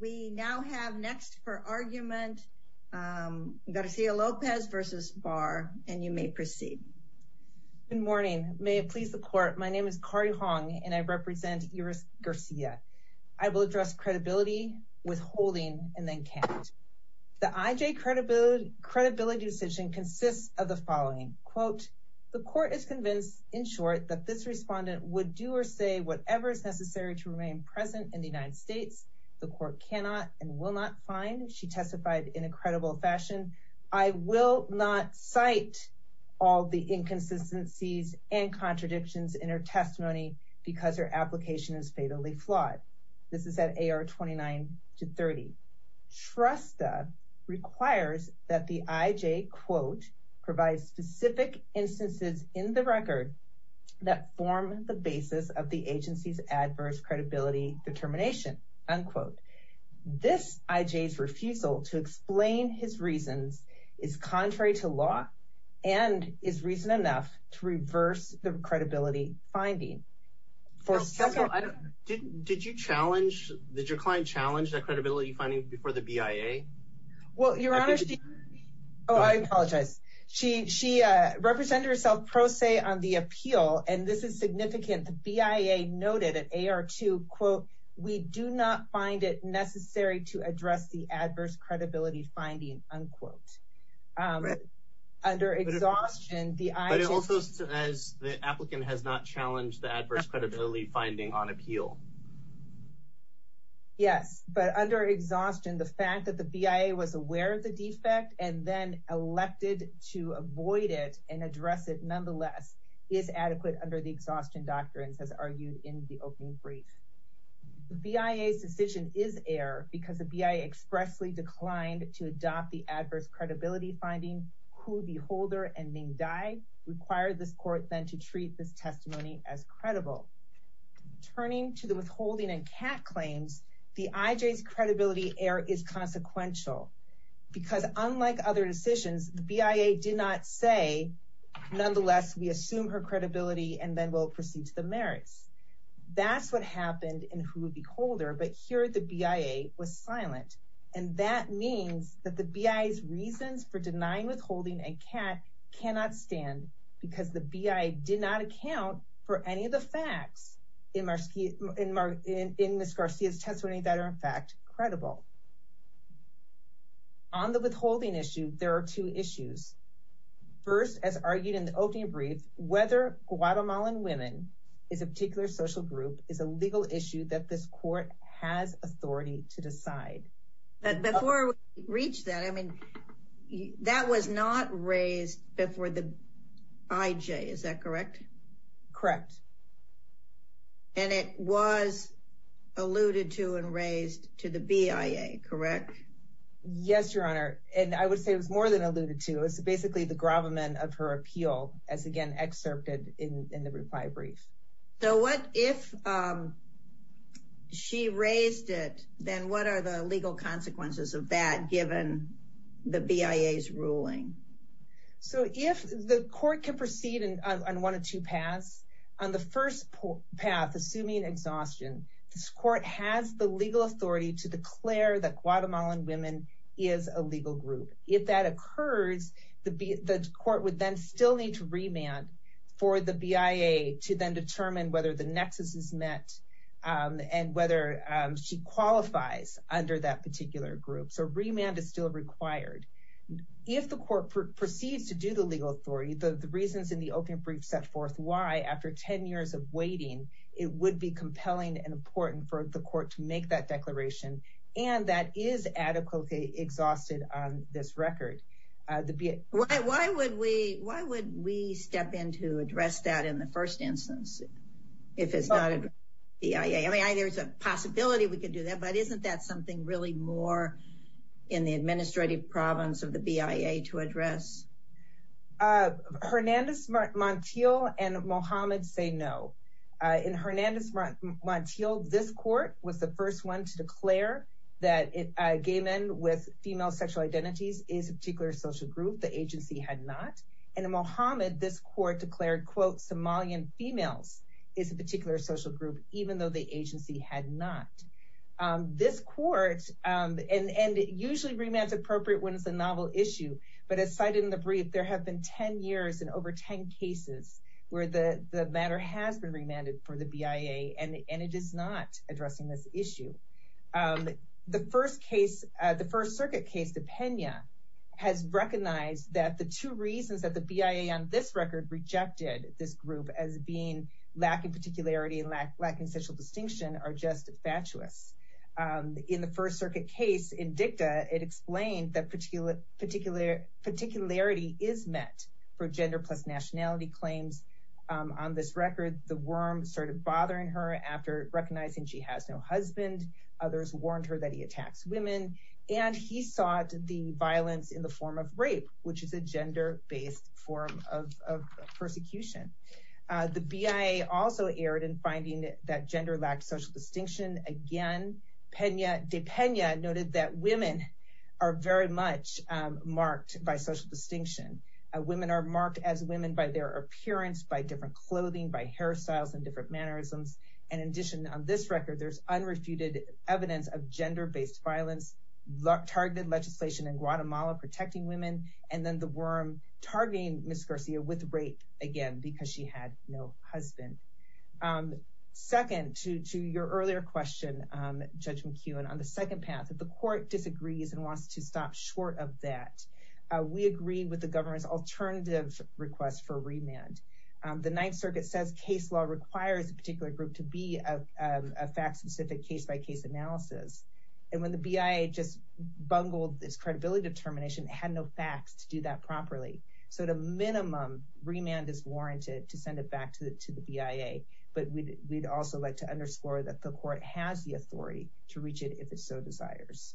We now have next for argument Garcia-Lopez v. Barr and you may proceed. Good morning. May it please the court, my name is Kari Hong and I represent Iris Garcia. I will address credibility, withholding, and then count. The IJ credibility decision consists of the following, quote, the court is convinced, in short, that this respondent would do or say whatever is present in the United States. The court cannot and will not find, she testified in a credible fashion, I will not cite all the inconsistencies and contradictions in her testimony because her application is fatally flawed. This is at AR 29 to 30. Trusta requires that the IJ, quote, provides specific instances in the record that form the basis of the agency's adverse credibility determination, unquote. This IJ's refusal to explain his reasons is contrary to law and is reason enough to reverse the credibility finding. For several, I don't, did did you challenge, did your client challenge that credibility finding before the BIA? Well your honor, oh I apologize, she she uh represented herself pro se on the appeal and this is quote, we do not find it necessary to address the adverse credibility finding, unquote. Under exhaustion, the IJ, but it also says the applicant has not challenged the adverse credibility finding on appeal. Yes, but under exhaustion the fact that the BIA was aware of the defect and then elected to avoid it and address it nonetheless is adequate under the BIA's decision is error because the BIA expressly declined to adopt the adverse credibility finding who the holder and Ming Dai required this court then to treat this testimony as credible. Turning to the withholding and cat claims, the IJ's credibility error is consequential because unlike other decisions, the BIA did not say nonetheless we assume her credibility and then we'll proceed to the merits. That's what happened in who would be holder but here the BIA was silent and that means that the BIA's reasons for denying withholding and cat cannot stand because the BIA did not account for any of the facts in Marcia, in Ms. Garcia's testimony that are in fact credible. On the withholding issue, there are two issues. First, as argued in the brief, whether Guatemalan women is a particular social group is a legal issue that this court has authority to decide. But before we reach that, I mean that was not raised before the IJ, is that correct? Correct. And it was alluded to and raised to the BIA, correct? Yes, your honor and I would say it was more than alluded to. It's basically the gravamen of her appeal as again excerpted in the reply brief. So what if she raised it, then what are the legal consequences of that given the BIA's ruling? So if the court can proceed on one of two paths, on the first path assuming exhaustion, this court has the legal authority to declare that Guatemalan women is a legal group. If that occurs, the court would then still need to remand for the BIA to then determine whether the nexus is met and whether she qualifies under that particular group. So remand is still required. If the court proceeds to do the legal authority, the reasons in the opening brief set forth why after 10 years of waiting, it would be compelling and important for the court to make that declaration and that is adequately exhausted on this record. Why would we step in to address that in the first instance if it's not BIA? I mean there's a possibility we could do that, but isn't that something really more in the administrative province of the BIA to address? Hernandez-Montiel and Mohamed say no. In Hernandez-Montiel, this court was the first one to declare that gay men with female sexual identities is a particular social group. The agency had not. In Mohamed, this court declared, quote, Somalian females is a particular social group even though the agency had not. This court, and usually remand is appropriate when it's a novel issue, but as cited in the brief, there have been 10 years and over 10 cases where the matter has been remanded for the BIA and it is not addressing this issue. The first circuit case, the Pena, has recognized that the two reasons that the BIA on this record rejected this group as being lacking particularity and lacking sexual distinction are just fatuous. In the first particularity is met for gender plus nationality claims. On this record, the worm started bothering her after recognizing she has no husband. Others warned her that he attacks women, and he sought the violence in the form of rape, which is a gender-based form of persecution. The BIA also erred in finding that gender lacked social distinction. Again, De Pena noted that marked by social distinction. Women are marked as women by their appearance, by different clothing, by hairstyles, and different mannerisms. In addition, on this record, there's unrefuted evidence of gender-based violence, targeted legislation in Guatemala protecting women, and then the worm targeting Ms. Garcia with rape again because she had no husband. Second to your earlier question, Judge McEwen, on the second path, if the court disagrees and wants to stop short of that, we agree with the government's alternative request for remand. The Ninth Circuit says case law requires a particular group to be a fact-specific, case-by-case analysis. When the BIA just bungled this credibility determination, it had no facts to do that properly. At a minimum, remand is warranted to send it back to the BIA, but we'd also like to underscore that the court has the authority to reach it if it so desires.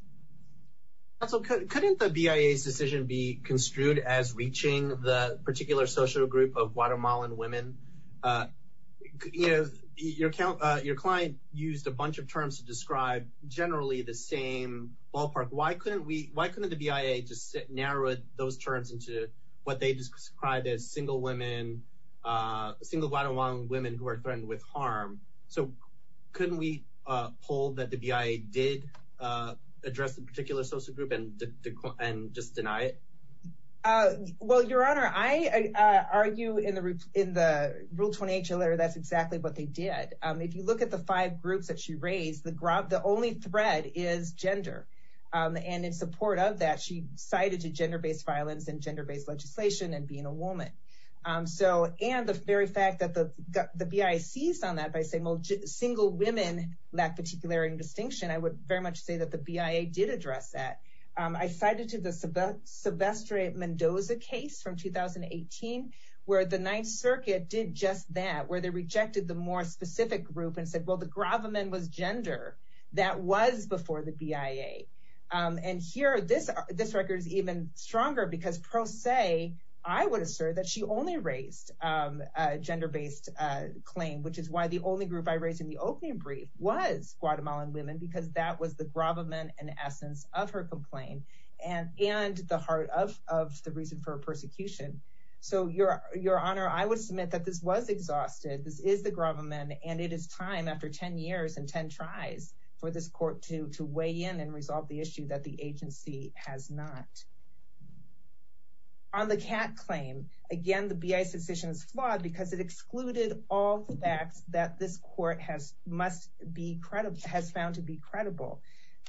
That's okay. Couldn't the BIA's decision be construed as reaching the particular social group of Guatemalan women? You know, your client used a bunch of terms to describe generally the same ballpark. Why couldn't we, why couldn't the BIA just narrow those terms into what they described as single women, single Guatemalan women who are threatened with harm? So couldn't we hold that the BIA did address the particular social group and just deny it? Well, Your Honor, I argue in the Rule 28 chair letter that's exactly what they did. If you look at the five groups that she raised, the only thread is gender. And in support of that, she cited gender-based violence and gender-based legislation and being a woman. And the very fact that the BIA seized on that by saying, well, single women lack particularity and distinction, I would very much say that the BIA did address that. I cited to the Sylvester Mendoza case from 2018, where the Ninth Circuit did just that, where they rejected the more specific group and said, well, the Gravamen was gender. That was before the BIA. And here, this record is even stronger because pro se, I would assert that she only raised a gender-based claim, which is why the only group I raised in the opening brief was Guatemalan women, because that was the Gravamen in essence of her complaint and the heart of the reason for her persecution. So Your Honor, I would submit that this was exhausted. This is the Gravamen, and it is time after 10 years and on the Kat claim, again, the BIA's decision is flawed because it excluded all the facts that this court has found to be credible.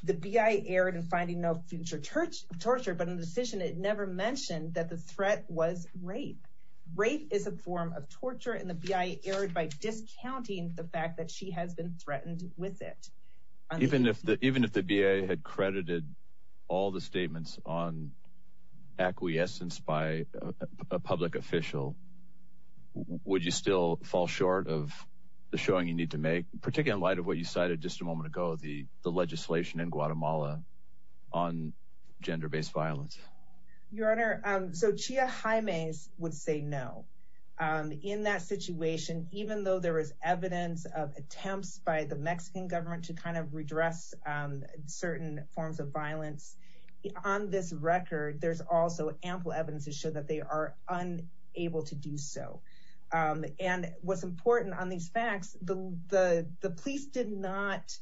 The BIA erred in finding no future torture, but in the decision, it never mentioned that the threat was rape. Rape is a form of torture, and the BIA erred by discounting the fact that she has been threatened with it. Even if the BIA had credited all the statements on acquiescence by a public official, would you still fall short of the showing you need to make, particularly in light of what you cited just a moment ago, the legislation in Guatemala on gender-based violence? Your Honor, so Chia Jaime would say no. In that situation, even though there is evidence of attempts by the Mexican government to kind of redress certain forms of violence, on this record, there's also ample evidence to show that they are unable to do so. And what's important on these facts, the police did not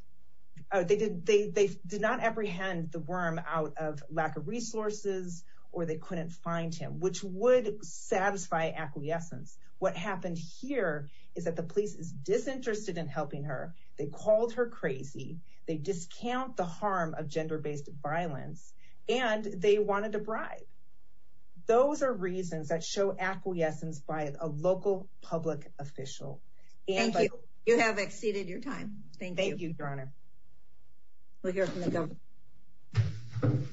apprehend the worm out of lack of resources or they couldn't find him, which would satisfy acquiescence. What happened here is that the police is disinterested in helping her. They called her crazy. They discount the harm of gender-based violence, and they wanted to bribe. Those are reasons that show acquiescence by a local public official. Thank you. You have exceeded your time. Thank you, Your Honor. We'll hear from the government.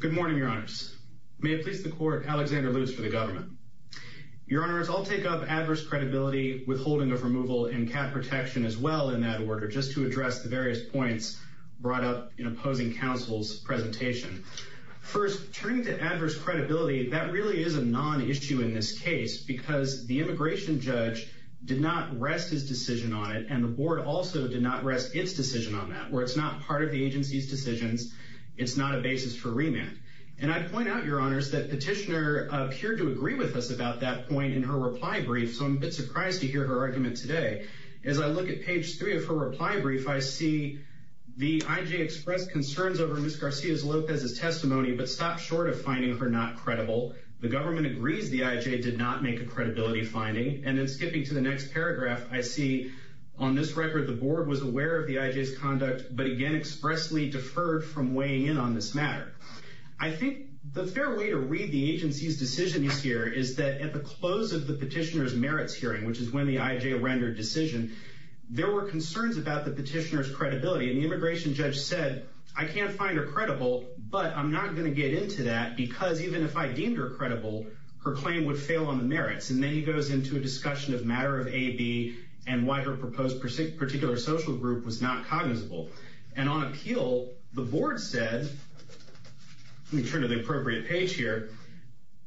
Good morning, Your Honors. May it please the Court, Alexander Luce for the government. Your Honors, I'll take up adverse credibility, withholding of removal, and cap protection as well in that order, just to address the various points brought up in opposing counsel's presentation. First, turning to adverse credibility, that really is a non-issue in this case, because the immigration judge did not rest his decision on it, and the Board also did not rest its decision on that. Where it's not part of the agency's decisions, it's not a basis for remand. And I'd point out, Your Honors, that Petitioner appeared to agree with us about that point in her reply brief, so I'm a bit surprised to hear her argument today. As I look at page three of her reply brief, I see the IJ express concerns over Ms. Garcia's Lopez's testimony, but stop short of finding her not credible. The government agrees the IJ did not make a credibility finding. And then skipping to the next paragraph, I see on this record the Board was aware of the IJ's conduct, but again expressly deferred from weighing in on this matter. I think the fair way to read the agency's decisions here is that at the close of the Petitioner's merits hearing, which is when the IJ rendered decision, there were concerns about the Petitioner's credibility. And the even if I deemed her credible, her claim would fail on the merits. And then he goes into a discussion of matter of AB and why her proposed particular social group was not cognizable. And on appeal, the Board said, let me turn to the appropriate page here,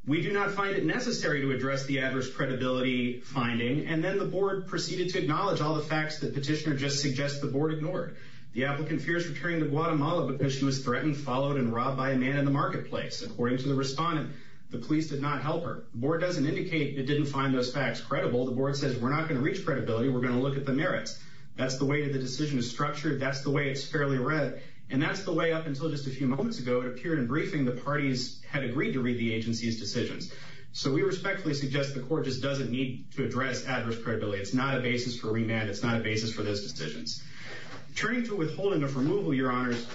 we do not find it necessary to address the adverse credibility finding. And then the Board proceeded to acknowledge all the facts that Petitioner just suggests the Board ignored. The applicant fears returning to Guatemala because she was threatened, followed, and robbed by a man in the marketplace. According to the respondent, the police did not help her. The Board doesn't indicate it didn't find those facts credible. The Board says, we're not going to reach credibility, we're going to look at the merits. That's the way that the decision is structured. That's the way it's fairly read. And that's the way up until just a few moments ago, it appeared in briefing, the parties had agreed to read the agency's decisions. So we respectfully suggest the Court just doesn't need to address adverse credibility. It's not a basis for remand. It's not a basis for those decisions. Turning to withholding of removal, Your Honors,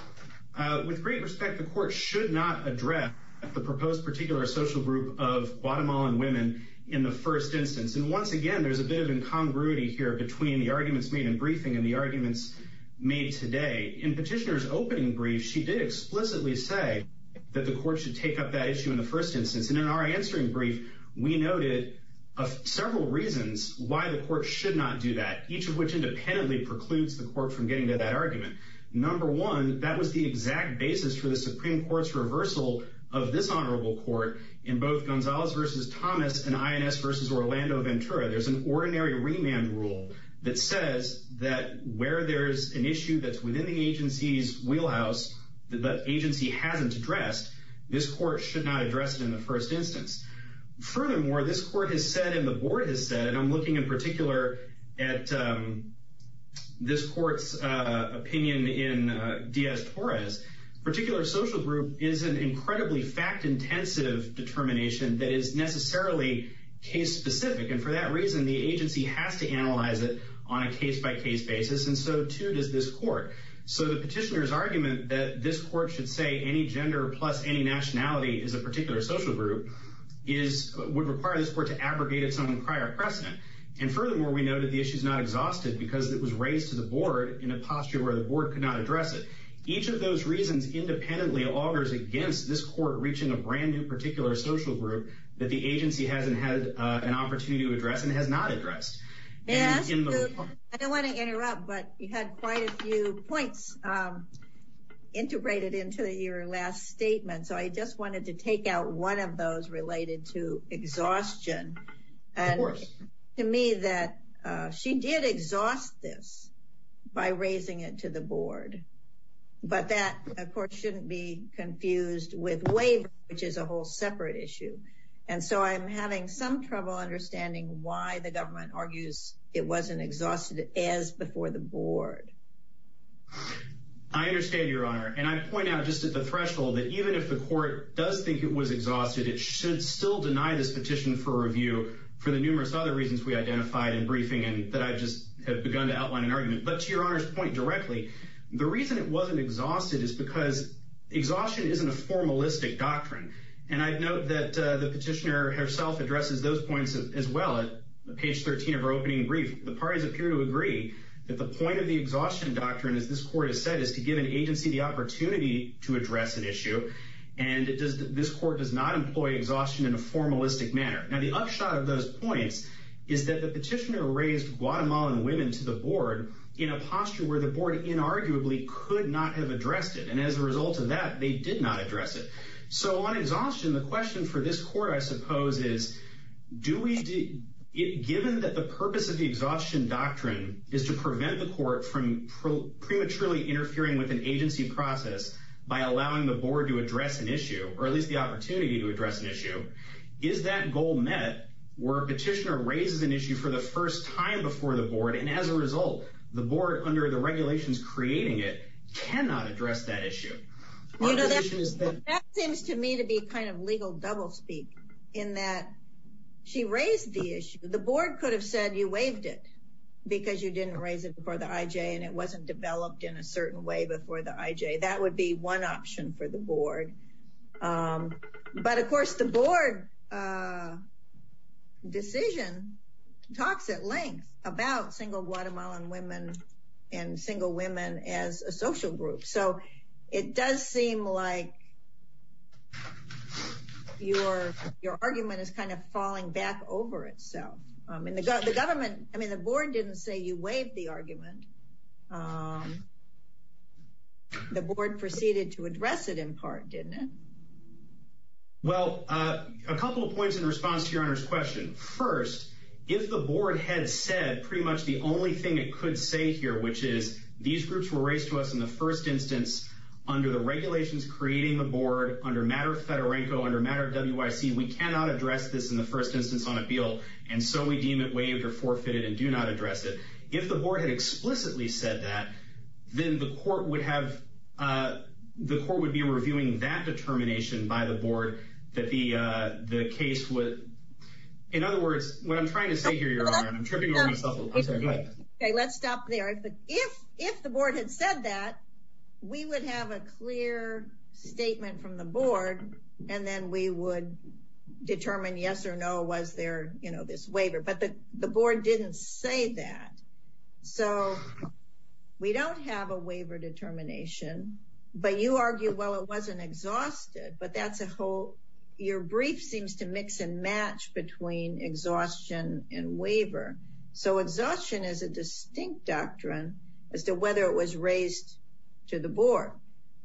with great respect, the Court should not address the proposed particular social group of Guatemalan women in the first instance. And once again, there's a bit of incongruity here between the arguments made in briefing and the arguments made today. In Petitioner's opening brief, she did explicitly say that the Court should take up that issue in the first instance. And in our answering brief, we noted several reasons why the Court should not do that, each of which independently precludes the Court from getting to that argument. Number one, that was the exact basis for the Supreme Court's reversal of this Honorable Court in both Gonzalez v. Thomas and Ines v. Orlando Ventura. There's an ordinary remand rule that says that where there's an issue that's within the agency's wheelhouse that the agency hasn't addressed, this Court should not address it in the first instance. Furthermore, this Court has said and the Board has said, and I'm looking in particular at this Court's opinion in Diaz-Torres, particular social group is an incredibly fact-intensive determination that is necessarily case-specific. And for that reason, the agency has to analyze it on a case-by-case basis, and so too does this Court. So the Petitioner's argument that this Court should say any gender plus any nationality is a particular social group would require this Court to abrogate its own prior precedent. And furthermore, we noted the issue is not exhausted because it was raised to the Board in a posture where the Board could not address it. Each of those reasons independently augurs against this Court reaching a brand new particular social group that the agency hasn't had an opportunity to address and has not addressed. Yes, I don't want to interrupt, but you had quite a few points integrated into your last statement, so I just wanted to take out one of those related to exhaustion. And to me that she did exhaust this by raising it to the Board, but that of course shouldn't be confused with waiver, which is a understanding why the government argues it wasn't exhausted as before the Board. I understand, Your Honor, and I point out just at the threshold that even if the Court does think it was exhausted, it should still deny this petition for review for the numerous other reasons we identified in briefing and that I just have begun to outline an argument. But to Your Honor's point directly, the reason it wasn't exhausted is because exhaustion isn't a formalistic doctrine. And I'd note that the petitioner herself addresses those points as well at page 13 of her opening brief. The parties appear to agree that the point of the exhaustion doctrine, as this Court has said, is to give an agency the opportunity to address an issue, and this Court does not employ exhaustion in a formalistic manner. Now the upshot of those points is that the petitioner raised Guatemalan women to the Board in a posture where the Board inarguably could not have addressed it. And as a result of that, they did not address it. So on exhaustion, the question for this Court, I suppose, is given that the purpose of the exhaustion doctrine is to prevent the Court from prematurely interfering with an agency process by allowing the Board to address an issue, or at least the opportunity to address an issue, is that goal met where a petitioner raises an issue for the first time before the Board, and as a result, the Board, under the regulations creating it, cannot address that issue. You know, that seems to me to be kind of legal doublespeak in that she raised the issue. The Board could have said you waived it because you didn't raise it before the IJ, and it wasn't developed in a certain way before the IJ. That would be one option for the Board. But of course, the Board decision talks at length about single Guatemalan women and single women as a social group. So it does seem like your argument is kind of falling back over itself. I mean, the Board didn't say you waived the argument. The Board proceeded to address it in part, didn't it? Well, a couple of points in response to your Honor's question. First, if the Board had said pretty much the only thing it could say here, which is these groups were raised to us in the first instance, under the regulations creating the Board, under matter of Federenco, under matter of WIC, we cannot address this in the first instance on appeal, and so we deem it waived or forfeited and do not address it. If the Board had explicitly said that, then the Court would have, the Court would be reviewing that determination by the Board that the case would, in other words, what I'm Okay, let's stop there. If the Board had said that, we would have a clear statement from the Board and then we would determine yes or no, was there, you know, this waiver. But the Board didn't say that. So we don't have a waiver determination, but you argue, well, it wasn't exhausted, but that's your brief seems to mix and match between exhaustion and waiver. So exhaustion is a distinct doctrine as to whether it was raised to the Board.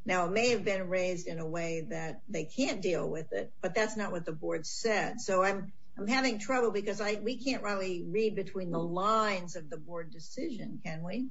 Now, it may have been raised in a way that they can't deal with it, but that's not what the Board said. So I'm having trouble because I, we can't really read between the lines of the Board decision, can we?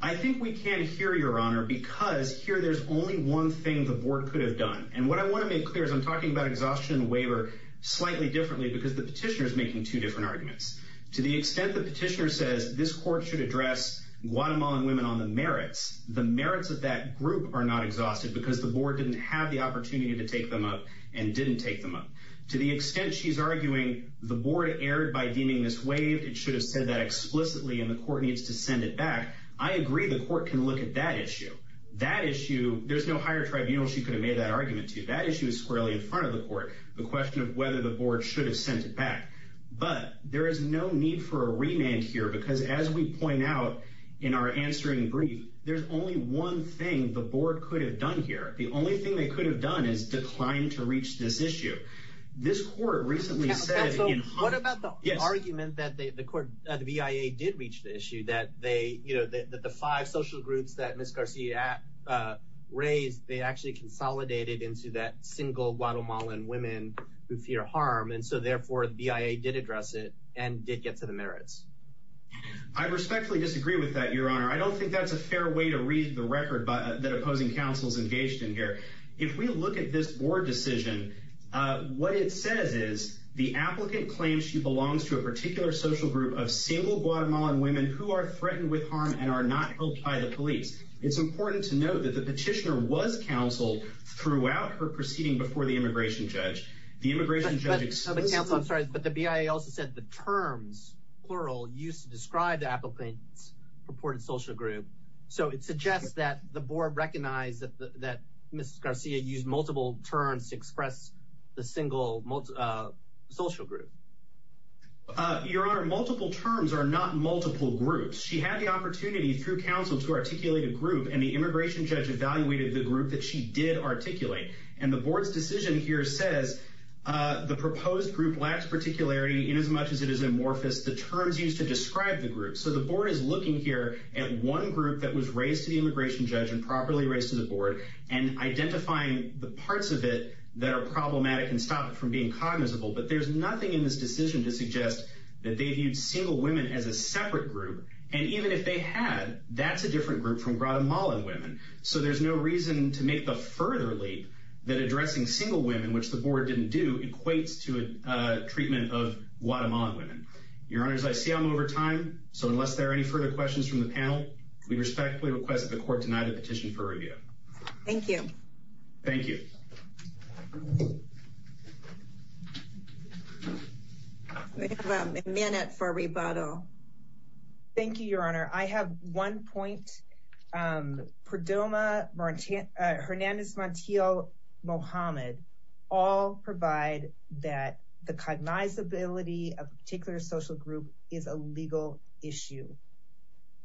I think we can't hear, Your Honor, because here there's only one thing the Board could have done. And what I want to make clear is I'm talking about exhaustion and waiver slightly differently because the petitioner is making two different arguments. To the extent the petitioner says this Court should address Guatemalan women on the merits, the merits of that group are not exhausted because the Board didn't have the opportunity to take them up and didn't take them up. To the extent she's arguing the Board erred by deeming this waived, it should have explicitly and the Court needs to send it back, I agree the Court can look at that issue. That issue, there's no higher tribunal she could have made that argument to. That issue is squarely in front of the Court. The question of whether the Board should have sent it back. But there is no need for a remand here because as we point out in our answering brief, there's only one thing the Board could have done here. The only thing they could have done is declined to reach this issue. This Court recently said... What about the argument that the court, the BIA did reach the issue that they, you know, that the five social groups that Ms. Garcia raised, they actually consolidated into that single Guatemalan women who fear harm and so therefore the BIA did address it and did get to the merits. I respectfully disagree with that, Your Honor. I don't think that's a fair way to read the record that opposing counsels engaged in here. If we look at this Board decision, what it says is the applicant claims she belongs to a particular social group of single Guatemalan women who are threatened with harm and are not helped by the police. It's important to note that the petitioner was counseled throughout her proceeding before the immigration judge. The immigration judge... But counsel, I'm sorry, but the BIA also said the terms, plural, used to describe the applicant's purported social group. So it suggests that the Board recognized that Ms. Garcia used multiple terms to express the single social group. Your Honor, multiple terms are not multiple groups. She had the opportunity through counsel to articulate a group and the immigration judge evaluated the group that she did articulate. And the Board's decision here says the proposed group lacks particularity in as much as it is amorphous. The terms used to describe the group. So the Board is looking here at one group that was raised to the immigration judge and properly raised to the Board and identifying the parts of it that are problematic and stop it from being cognizable. But there's nothing in this decision to suggest that they viewed single women as a separate group. And even if they had, that's a different group from Guatemalan women. So there's no reason to make the further leap that addressing single women, which the Board didn't do, equates to a treatment of Guatemalan women. Your Honor, I see I'm over time. So unless there are any further questions from the panel, we respectfully request that the Court deny the petition for review. Thank you. Thank you. We have a minute for rebuttal. Thank you, Your Honor. I have one point. Perdoma, Hernandez Montiel, Mohammed all provide that the cognizability of a particular social group is a legal issue.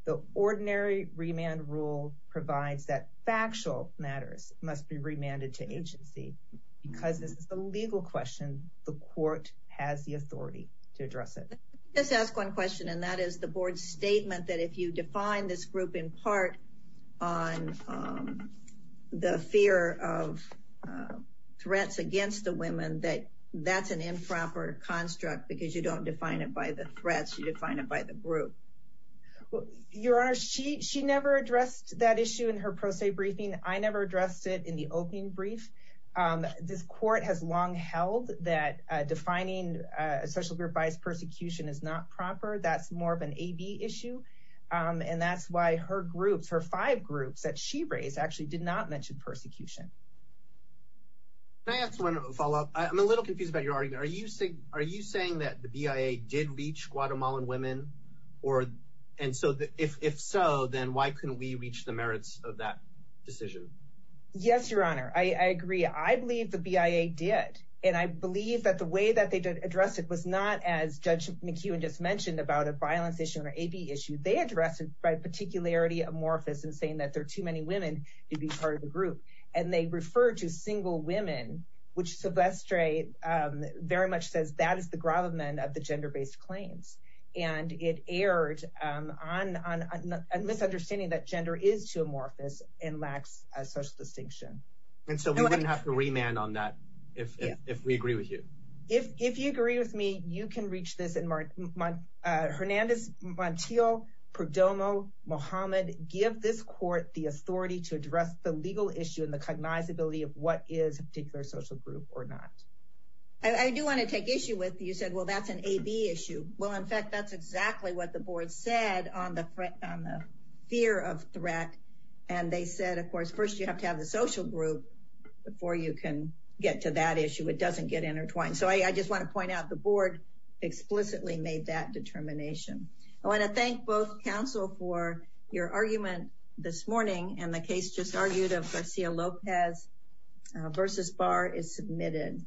The ordinary remand rule provides that factual matters must be remanded to agency. Because this is a legal question, the Court has the authority to address it. Just ask one question, and that is the Board's statement that if you define this group in part on the fear of threats against the women, that that's an improper construct, because you don't define it by the threats, you define it by the group. Your Honor, she never addressed that issue in her pro se briefing. I never addressed it in the opening brief. This Court has long held that defining a social group by its persecution is not proper. That's more of an AB issue. And that's why her groups, her five groups that she raised actually did not mention persecution. Can I ask one follow up? I'm a little confused about your argument. Are you saying that the BIA did reach Guatemalan women? And so if so, then why couldn't we reach the merits of that decision? Yes, Your Honor, I agree. I believe the BIA did. And I believe that the way that they addressed it was not as Judge McEwen just mentioned about a violence issue or AB issue. They addressed it by particularity amorphous and saying that there are too many women to be part of the group. And they referred to single women, which Silvestre very much says that is the gravamen of the gender-based claims. And it erred on a misunderstanding that gender is too amorphous and lacks a social distinction. And so we wouldn't have to remand on that if we agree with you. If you agree with me, you can reach this. Hernandez Montiel, Perdomo, Mohamed, give this Court the authority to address the legal issue and the cognizability of what is a particular social group or not. I do want to take issue with you said, well, that's an AB issue. Well, in fact, that's exactly what the board said on the threat on the fear of threat. And they said, of course, first, you have to have the social group before you can get to that issue. It doesn't get intertwined. So I just want to point out the board explicitly made that determination. I want to thank both for your argument this morning and the case just argued of Garcia Lopez versus Barr is submitted.